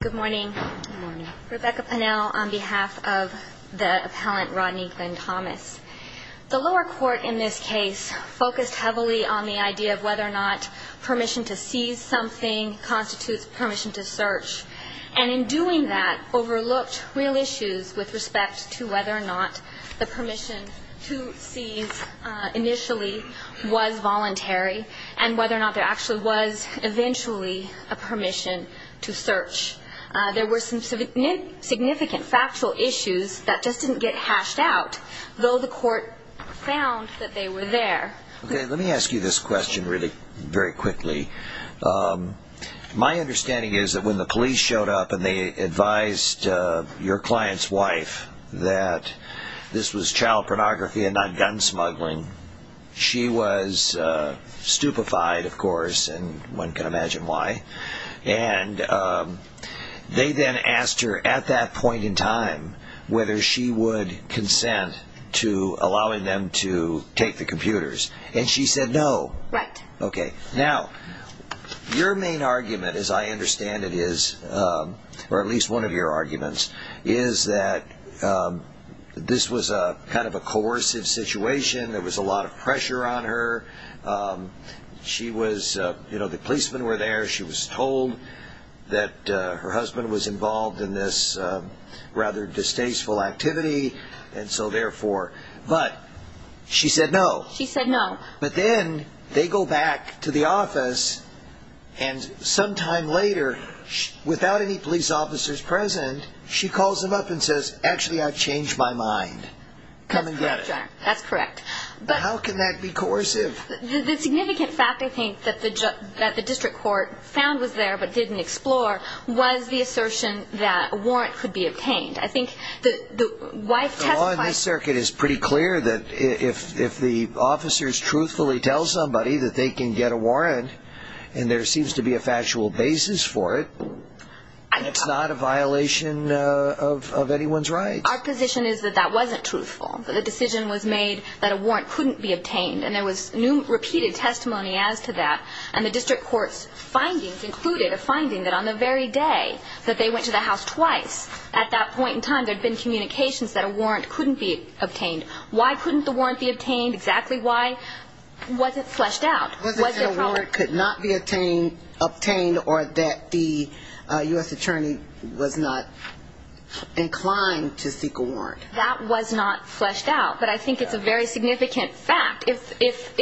Good morning. Rebecca Pennell on behalf of the appellant Rodney Glenn Thomas. The lower court in this case focused heavily on the idea of whether or not permission to seize something constitutes permission to search. And in doing that overlooked real issues with respect to whether or not the permission to seize initially was voluntary and whether or not there actually was eventually a permission to search. There were some significant factual issues that just didn't get hashed out, though the court found that they were there. Let me ask you this question really very quickly. My understanding is that when the police showed up and they advised your client's wife that this was child pornography and not gun smuggling, she was stupefied, of course, and one can imagine why. They then asked her at that point in time whether she would consent to allowing them to take the computers and she said no. Now, your main argument, as I understand it is, or at least one of your arguments, is that this was kind of a coercive situation, there was a lot of pressure on her, the policemen were there, she was told that her husband was involved in this rather distasteful activity, and so therefore, but she said no. But then they go back to the office and sometime later, without any police officers present, she calls them up and says, actually, I've changed my mind, come and get it. That's correct. How can that be coercive? The significant fact, I think, that the district court found was there but didn't explore was the assertion that a warrant could be obtained. The law in this circuit is pretty clear that if the officers truthfully tell somebody that they can get a warrant and there seems to be a factual basis for it, it's not a violation of anyone's rights. Our position is that that wasn't truthful. The decision was made that a warrant couldn't be obtained and there was repeated testimony as to that and the district court's findings included a finding that on the very day that they went to the house twice, at that point in time, there had been communications that a warrant couldn't be obtained. Why couldn't the warrant be obtained? Exactly why? Was it fleshed out? Was there a problem? Was it that a warrant could not be obtained or that the U.S. attorney was not inclined to seek a warrant? That was not fleshed out, but I think it's a very significant fact. If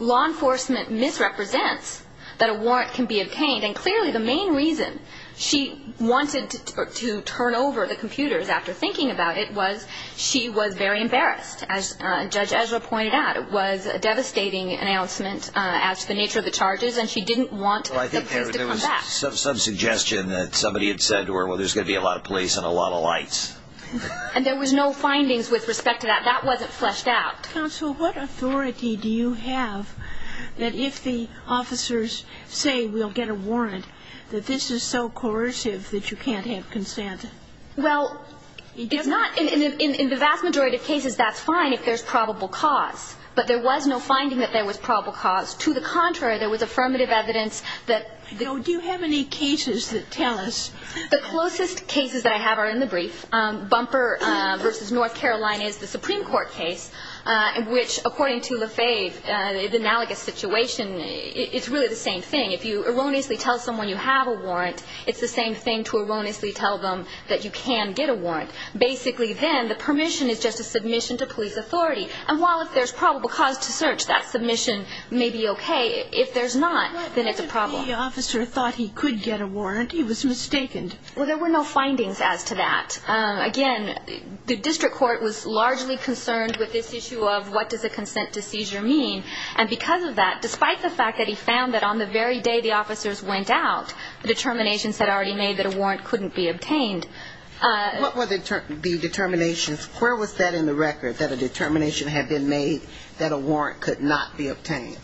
law enforcement misrepresents that a warrant can be obtained, and clearly the main reason she wanted to turn over the computers after thinking about it was she was very embarrassed. As Judge Ezra pointed out, it was a devastating announcement as to the nature of the charges and she didn't want the police to come back. I think there was some suggestion that somebody had said to her, well, there's going to be a lot of police and a lot of lights. And there was no findings with respect to that. That wasn't fleshed out. Counsel, what authority do you have that if the officers say we'll get a warrant, that this is so coercive that you can't have consent? Well, it's not – in the vast majority of cases, that's fine if there's probable cause, but there was no finding that there was probable cause. To the contrary, there was affirmative evidence that – Do you have any cases that tell us – The closest cases that I have are in the brief. Bumper v. North Carolina is the Supreme Court case in which, according to LaFave, the analogous situation, it's really the same thing. If you erroneously tell someone you have a warrant, it's the same thing to erroneously tell them that you can get a warrant. Basically then, the permission is just a submission to police authority. And while if there's probable cause to search, that submission may be okay, if there's not, then it's a problem. The officer thought he could get a warrant. He was mistaken. Well, there were no findings as to that. Again, the district court was largely concerned with this issue of what does a consent to seizure mean. And because of that, despite the fact that he found that on the very day the officers went out, the determinations had already made that a warrant couldn't be obtained. What were the determinations? Where was that in the record, that a determination had been made that a warrant could not be obtained?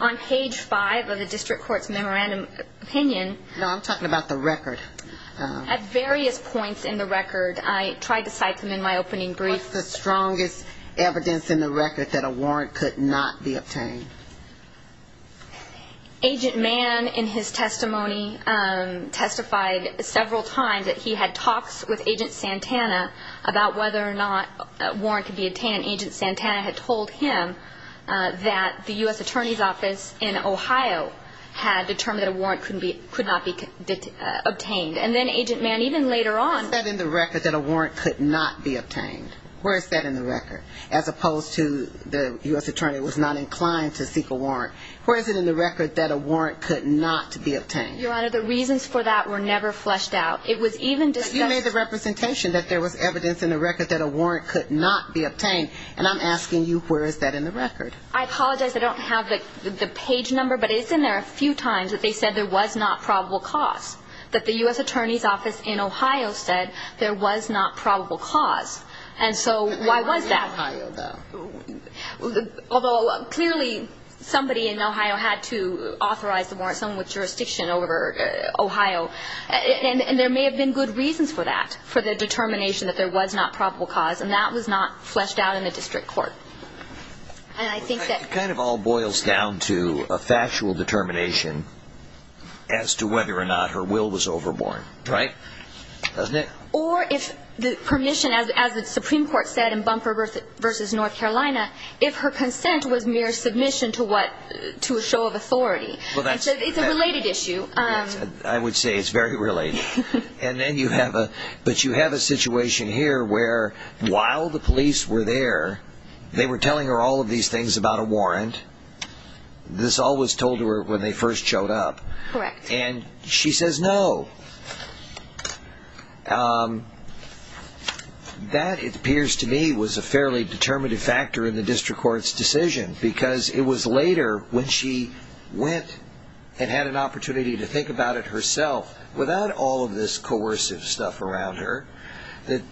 On page 5 of the district court's memorandum opinion. No, I'm talking about the record. At various points in the record. I tried to cite them in my opening brief. What's the strongest evidence in the record that a warrant could not be obtained? Agent Mann, in his testimony, testified several times that he had talks with Agent Santana about whether or not a warrant could be obtained. And Agent Santana had told him that the U.S. Attorney's Office in Ohio had determined that a warrant could not be obtained. And then Agent Mann, even later on. Where is that in the record that a warrant could not be obtained? Where is that in the record? As opposed to the U.S. Attorney was not inclined to seek a warrant. Where is it in the record that a warrant could not be obtained? Your Honor, the reasons for that were never fleshed out. It was even discussed. But you made the representation that there was evidence in the record that a warrant could not be obtained. And I'm asking you, where is that in the record? I apologize. I don't have the page number. But it's in there a few times that they said there was not probable cause. That the U.S. Attorney's Office in Ohio said there was not probable cause. And so why was that? Although clearly somebody in Ohio had to authorize the warrant. Someone with jurisdiction over Ohio. And there may have been good reasons for that. For the determination that there was not probable cause. And that was not fleshed out in the district court. It kind of all boils down to a factual determination as to whether or not her will was overborne. Right? Doesn't it? Or if the permission, as the Supreme Court said in Bumper v. North Carolina, if her consent was mere submission to what? To a show of authority. It's a related issue. I would say it's very related. And then you have a situation here where while the police were there, they were telling her all of these things about a warrant. This all was told to her when they first showed up. Correct. And she says no. That, it appears to me, was a fairly determinative factor in the district court's decision. Because it was later when she went and had an opportunity to think about it herself, without all of this coercive stuff around her, that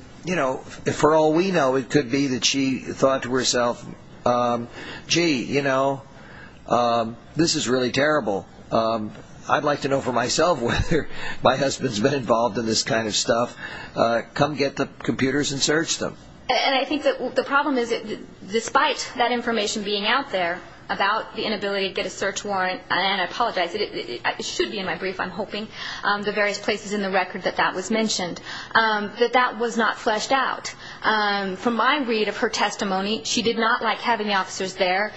for all we know it could be that she thought to herself, gee, this is really terrible. I'd like to know for myself whether my husband's been involved in this kind of stuff. Come get the computers and search them. And I think the problem is that despite that information being out there about the inability to get a search warrant, and I apologize, it should be in my brief, I'm hoping, the various places in the record that that was mentioned, that that was not fleshed out. From my read of her testimony, she did not like having the officers there.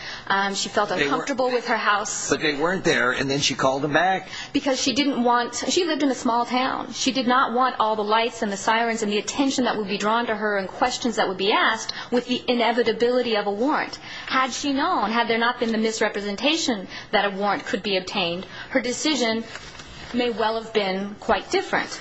She felt uncomfortable with her house. So they weren't there, and then she called them back? Because she didn't want, she lived in a small town. She did not want all the lights and the sirens and the attention that would be drawn to her and questions that would be asked with the inevitability of a warrant. Had she known, had there not been the misrepresentation that a warrant could be obtained, her decision may well have been quite different.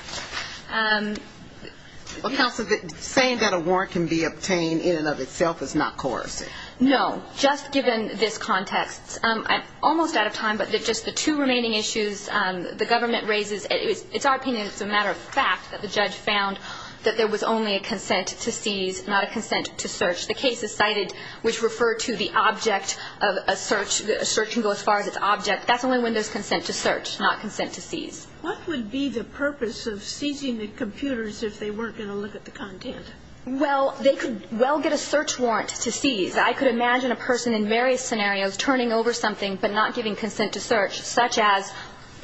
Counsel, saying that a warrant can be obtained in and of itself is not coercive. No. Just given this context, I'm almost out of time, but just the two remaining issues the government raises, it's our opinion, it's a matter of fact that the judge found that there was only a consent to seize, not a consent to search. The case is cited, which referred to the object of a search, a search can go as far as its object. That's only when there's consent to search, not consent to seize. What would be the purpose of seizing the computers if they weren't going to look at the content? Well, they could well get a search warrant to seize. I could imagine a person in various scenarios turning over something but not giving consent to search, such as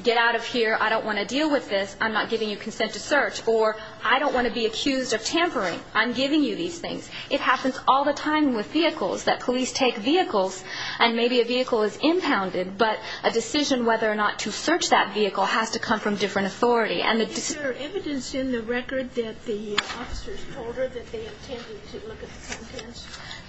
get out of here, I don't want to deal with this, I'm not giving you consent to search, or I don't want to be accused of tampering, I'm giving you these things. It happens all the time with vehicles, that police take vehicles and maybe a vehicle is impounded, but a decision whether or not to search that vehicle has to come from different authority. Is there evidence in the record that the officers told her that they intended to look at the contents?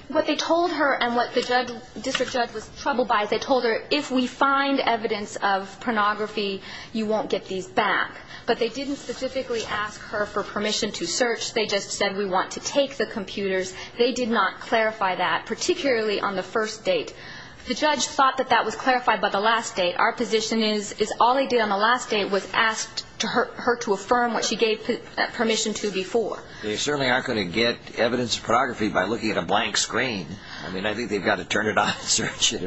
What they told her and what the district judge was troubled by is they told her, if we find evidence of pornography, you won't get these back. But they didn't specifically ask her for permission to search. They just said we want to take the computers. They did not clarify that, particularly on the first date. The judge thought that that was clarified by the last date. Our position is all they did on the last date was ask her to affirm what she gave permission to before. They certainly aren't going to get evidence of pornography by looking at a blank screen. I mean, I think they've got to turn it on and search it.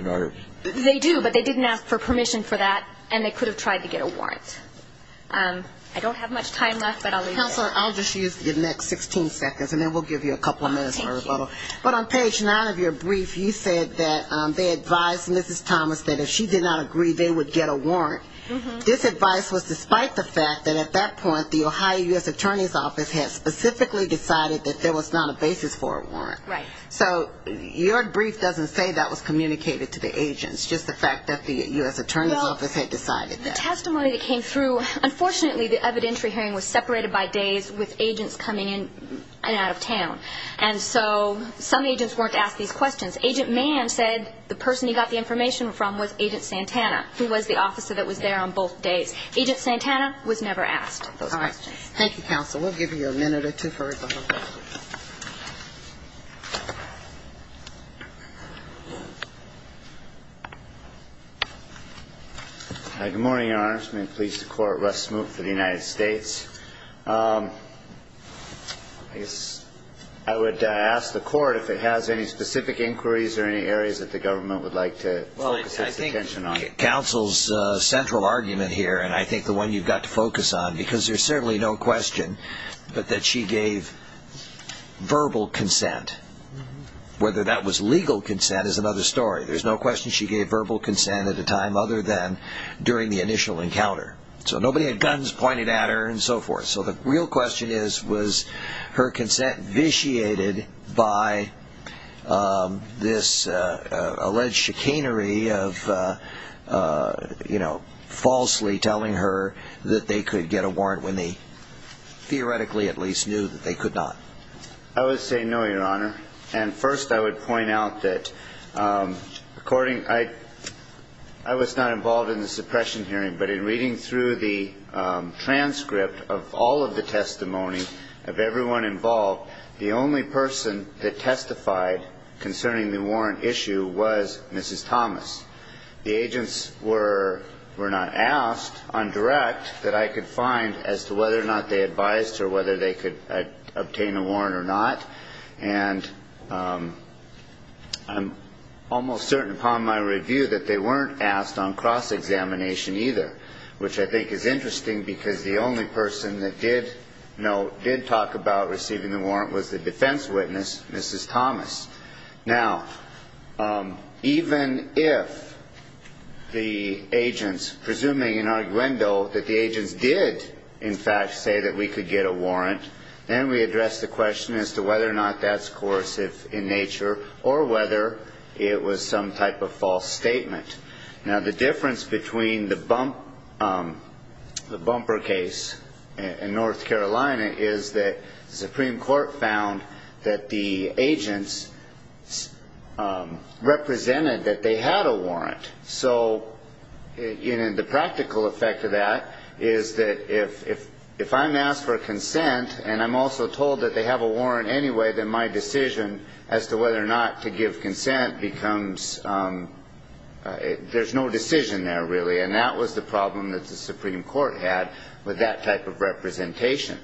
They do, but they didn't ask for permission for that, and they could have tried to get a warrant. I don't have much time left, but I'll leave it there. Counselor, I'll just use the next 16 seconds, and then we'll give you a couple of minutes. But on page 9 of your brief, you said that they advised Mrs. Thomas that if she did not agree, they would get a warrant. This advice was despite the fact that at that point the Ohio U.S. Attorney's Office had specifically decided that there was not a basis for a warrant. Right. So your brief doesn't say that was communicated to the agents, just the fact that the U.S. Attorney's Office had decided that. The testimony that came through, unfortunately, the evidentiary hearing was separated by days with agents coming in and out of town. And so some agents weren't asked these questions. Agent Mann said the person he got the information from was Agent Santana, who was the officer that was there on both days. Agent Santana was never asked those questions. All right. Thank you, Counsel. We'll give you a minute or two for rebuttal. Good morning, Your Honor. It's my pleasure to court Russ Smoot for the United States. I guess I would ask the court if it has any specific inquiries or any areas that the government would like to focus its attention on. Well, I think Counsel's central argument here, and I think the one you've got to focus on, because there's certainly no question but that she gave verbal consent. Whether that was legal consent is another story. There's no question she gave verbal consent at the time other than during the initial encounter. So nobody had guns pointed at her and so forth. So the real question is, was her consent vitiated by this alleged chicanery of, you know, falsely telling her that they could get a warrant when they theoretically at least knew that they could not? I would say no, Your Honor. And first I would point out that I was not involved in the suppression hearing, but in reading through the transcript of all of the testimony of everyone involved, the only person that testified concerning the warrant issue was Mrs. Thomas. The agents were not asked on direct that I could find as to whether or not they advised her whether they could obtain a warrant or not. And I'm almost certain upon my review that they weren't asked on cross-examination either, which I think is interesting because the only person that did talk about receiving the warrant was the defense witness, Mrs. Thomas. Now, even if the agents, presuming in arguendo that the agents did, in fact, say that we could get a warrant, then we address the question as to whether or not that's coercive in nature or whether it was some type of false statement. Now, the difference between the bumper case in North Carolina is that the Supreme Court found that the agents represented that they had a warrant. So the practical effect of that is that if I'm asked for a consent and I'm also told that they have a warrant anyway, then my decision as to whether or not to give consent becomes ‑‑ there's no decision there, really. And that was the problem that the Supreme Court had with that type of representation.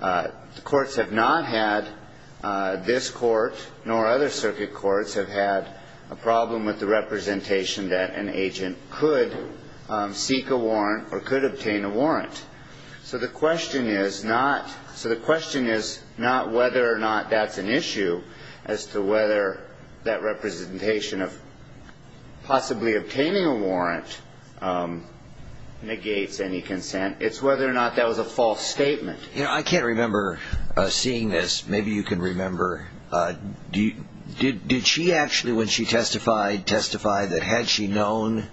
The courts have not had, this court nor other circuit courts, have had a problem with the representation that an agent could seek a warrant or could obtain a warrant. So the question is not whether or not that's an issue as to whether that representation of possibly obtaining a warrant negates any consent. It's whether or not that was a false statement. I can't remember seeing this. Maybe you can remember. Did she actually, when she testified, testify that had she known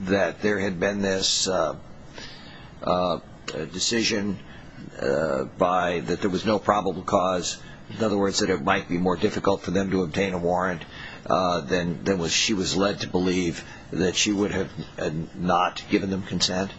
that there had been this decision by ‑‑ that there was no probable cause, in other words, that it might be more difficult for them to obtain a warrant, then she was led to believe that she would have not given them consent?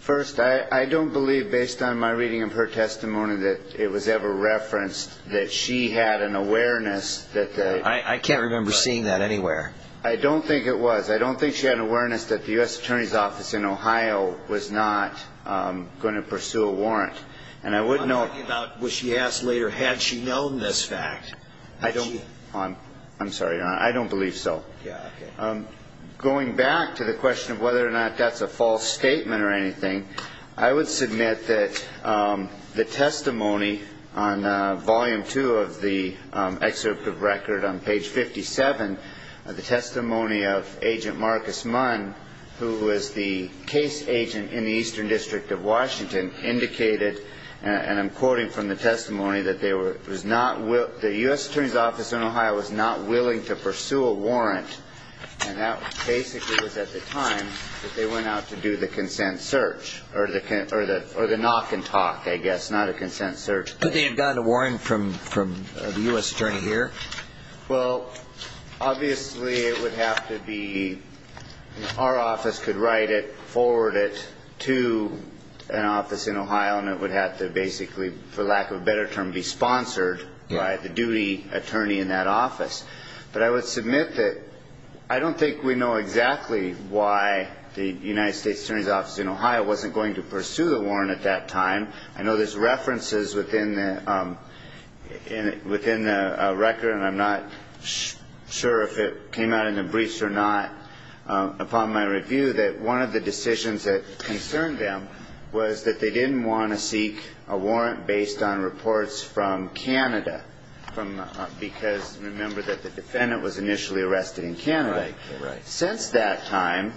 First, I don't believe, based on my reading of her testimony, that it was ever referenced that she had an awareness that the ‑‑ I can't remember seeing that anywhere. I don't think it was. I don't think she had an awareness that the U.S. Attorney's Office in Ohio was not going to pursue a warrant. And I wouldn't know ‑‑ You're talking about what she asked later, had she known this fact. I don't ‑‑ I'm sorry, Your Honor. I don't believe so. Yeah, okay. Going back to the question of whether or not that's a false statement or anything, I would submit that the testimony on volume two of the excerpt of record on page 57, the testimony of Agent Marcus Munn, who was the case agent in the Eastern District of Washington, indicated, and I'm quoting from the testimony, that there was not ‑‑ the U.S. Attorney's Office in Ohio was not willing to pursue a warrant, and that basically was at the time that they went out to do the consent search, or the knock and talk, I guess, not a consent search. Could they have gotten a warrant from the U.S. Attorney here? Well, obviously it would have to be ‑‑ our office could write it, forward it to an office in Ohio, and it would have to basically, for lack of a better term, be sponsored by the duty attorney in that office. But I would submit that I don't think we know exactly why the United States Attorney's Office in Ohio wasn't going to pursue the warrant at that time. I know there's references within the record, and I'm not sure if it came out in the briefs or not, upon my review, that one of the decisions that concerned them was that they didn't want to seek a warrant based on reports from Canada, because remember that the defendant was initially arrested in Canada. Right, right. Since that time,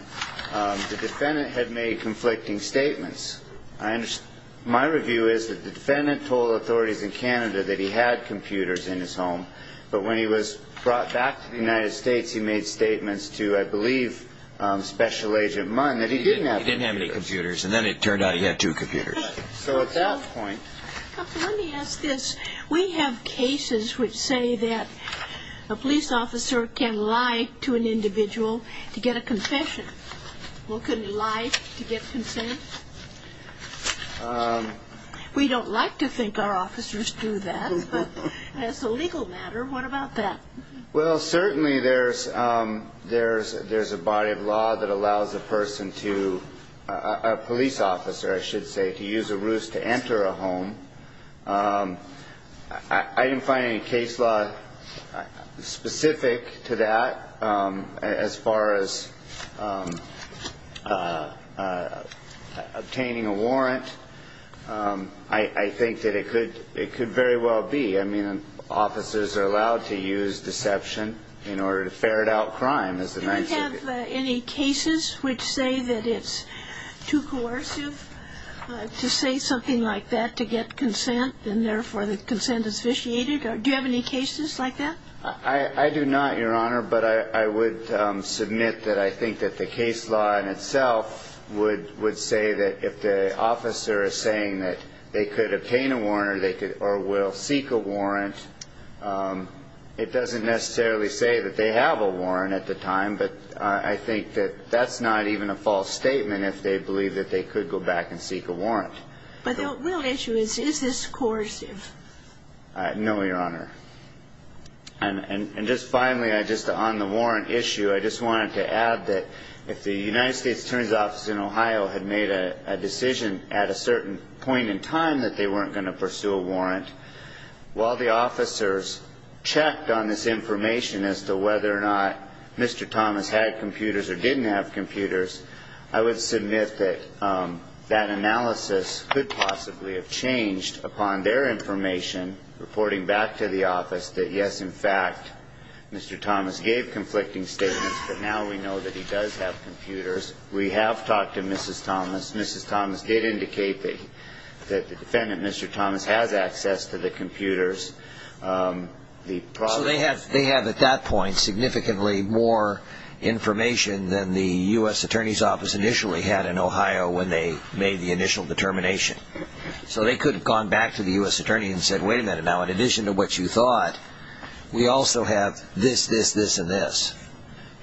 the defendant had made conflicting statements. My review is that the defendant told authorities in Canada that he had computers in his home, but when he was brought back to the United States, he made statements to, I believe, Special Agent Munn, that he didn't have computers. He didn't have any computers, and then it turned out he had two computers. So at that point ‑‑ Let me ask this. We have cases which say that a police officer can lie to an individual to get a confession. Well, could he lie to get consent? We don't like to think our officers do that, but as a legal matter, what about that? Well, certainly there's a body of law that allows a person to ‑‑ a police officer, I should say, to use a ruse to enter a home. I didn't find any case law specific to that. As far as obtaining a warrant, I think that it could very well be. I mean, officers are allowed to use deception in order to ferret out crime. Do we have any cases which say that it's too coercive to say something like that to get consent, and therefore the consent is vitiated? Do you have any cases like that? I do not, Your Honor, but I would submit that I think that the case law in itself would say that if the officer is saying that they could obtain a warrant or will seek a warrant, it doesn't necessarily say that they have a warrant at the time, but I think that that's not even a false statement if they believe that they could go back and seek a warrant. But the real issue is, is this coercive? No, Your Honor. And just finally, just on the warrant issue, I just wanted to add that if the United States Attorney's Office in Ohio had made a decision at a certain point in time that they weren't going to pursue a warrant, while the officers checked on this information as to whether or not Mr. Thomas had computers or didn't have computers, I would submit that that analysis could possibly have changed upon their information reporting back to the office that, yes, in fact, Mr. Thomas gave conflicting statements, but now we know that he does have computers. We have talked to Mrs. Thomas. Mrs. Thomas did indicate that the defendant, Mr. Thomas, has access to the computers. So they have, at that point, significantly more information than the U.S. Attorney's Office initially had in Ohio when they made the initial determination. So they could have gone back to the U.S. Attorney and said, wait a minute now, in addition to what you thought, we also have this, this, this, and this.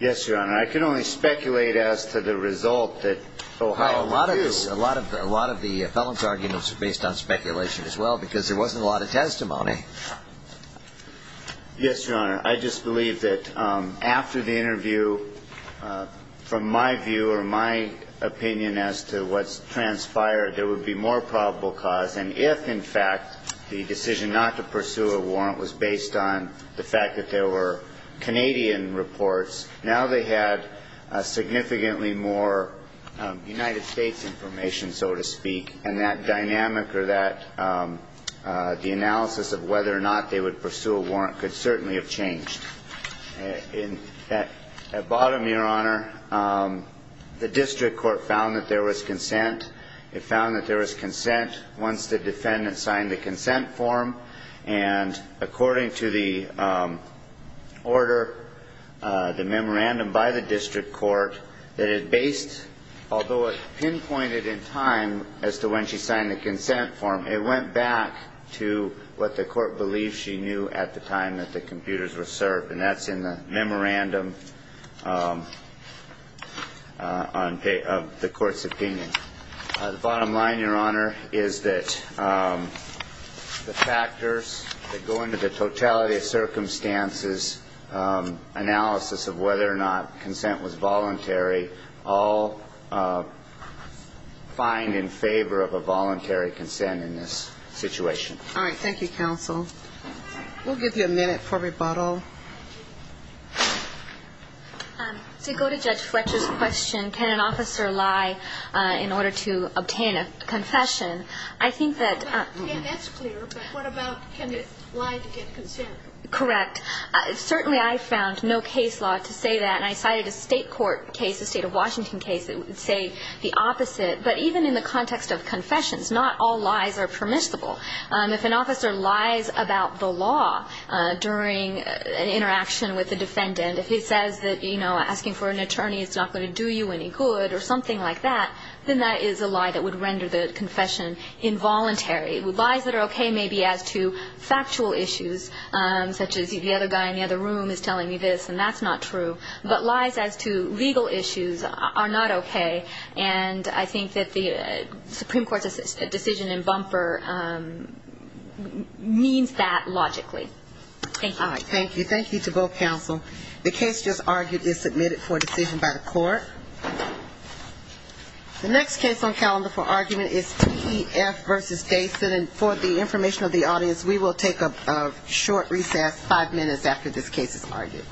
Yes, Your Honor. I can only speculate as to the result that Ohio knew. A lot of the felon's arguments are based on speculation as well because there wasn't a lot of testimony. Yes, Your Honor. I just believe that after the interview, from my view or my opinion as to what's transpired, there would be more probable cause. And if, in fact, the decision not to pursue a warrant was based on the fact that there were Canadian reports, now they had significantly more United States information, so to speak, and that dynamic or that, the analysis of whether or not they would pursue a warrant could certainly have changed. At bottom, Your Honor, the district court found that there was consent. It found that there was consent once the defendant signed the consent form, and according to the order, the memorandum by the district court, that it based, although it pinpointed in time as to when she signed the consent form, it went back to what the court believed she knew at the time that the computers were served, and that's in the memorandum of the court's opinion. The bottom line, Your Honor, is that the factors that go into the totality of circumstances, analysis of whether or not consent was voluntary, all find in favor of a voluntary consent in this situation. All right. Thank you, counsel. We'll give you a minute for rebuttal. To go to Judge Fletcher's question, can an officer lie in order to obtain a confession, I think that that's clear, but what about can they lie to get consent? Correct. Certainly I found no case law to say that, and I cited a state court case, a state of Washington case, that would say the opposite. But even in the context of confessions, not all lies are permissible. If an officer lies about the law during an interaction with a defendant, if he says that, you know, asking for an attorney is not going to do you any good or something like that, then that is a lie that would render the confession involuntary. Lies that are okay may be as to factual issues, such as the other guy in the other room is telling me this, and that's not true. But lies as to legal issues are not okay, and I think that the Supreme Court's decision in bumper means that logically. Thank you. All right. Thank you. Thank you to both counsel. The case just argued is submitted for decision by the court. The next case on calendar for argument is TEF v. Gayson. And for the information of the audience, we will take a short recess five minutes after this case is argued.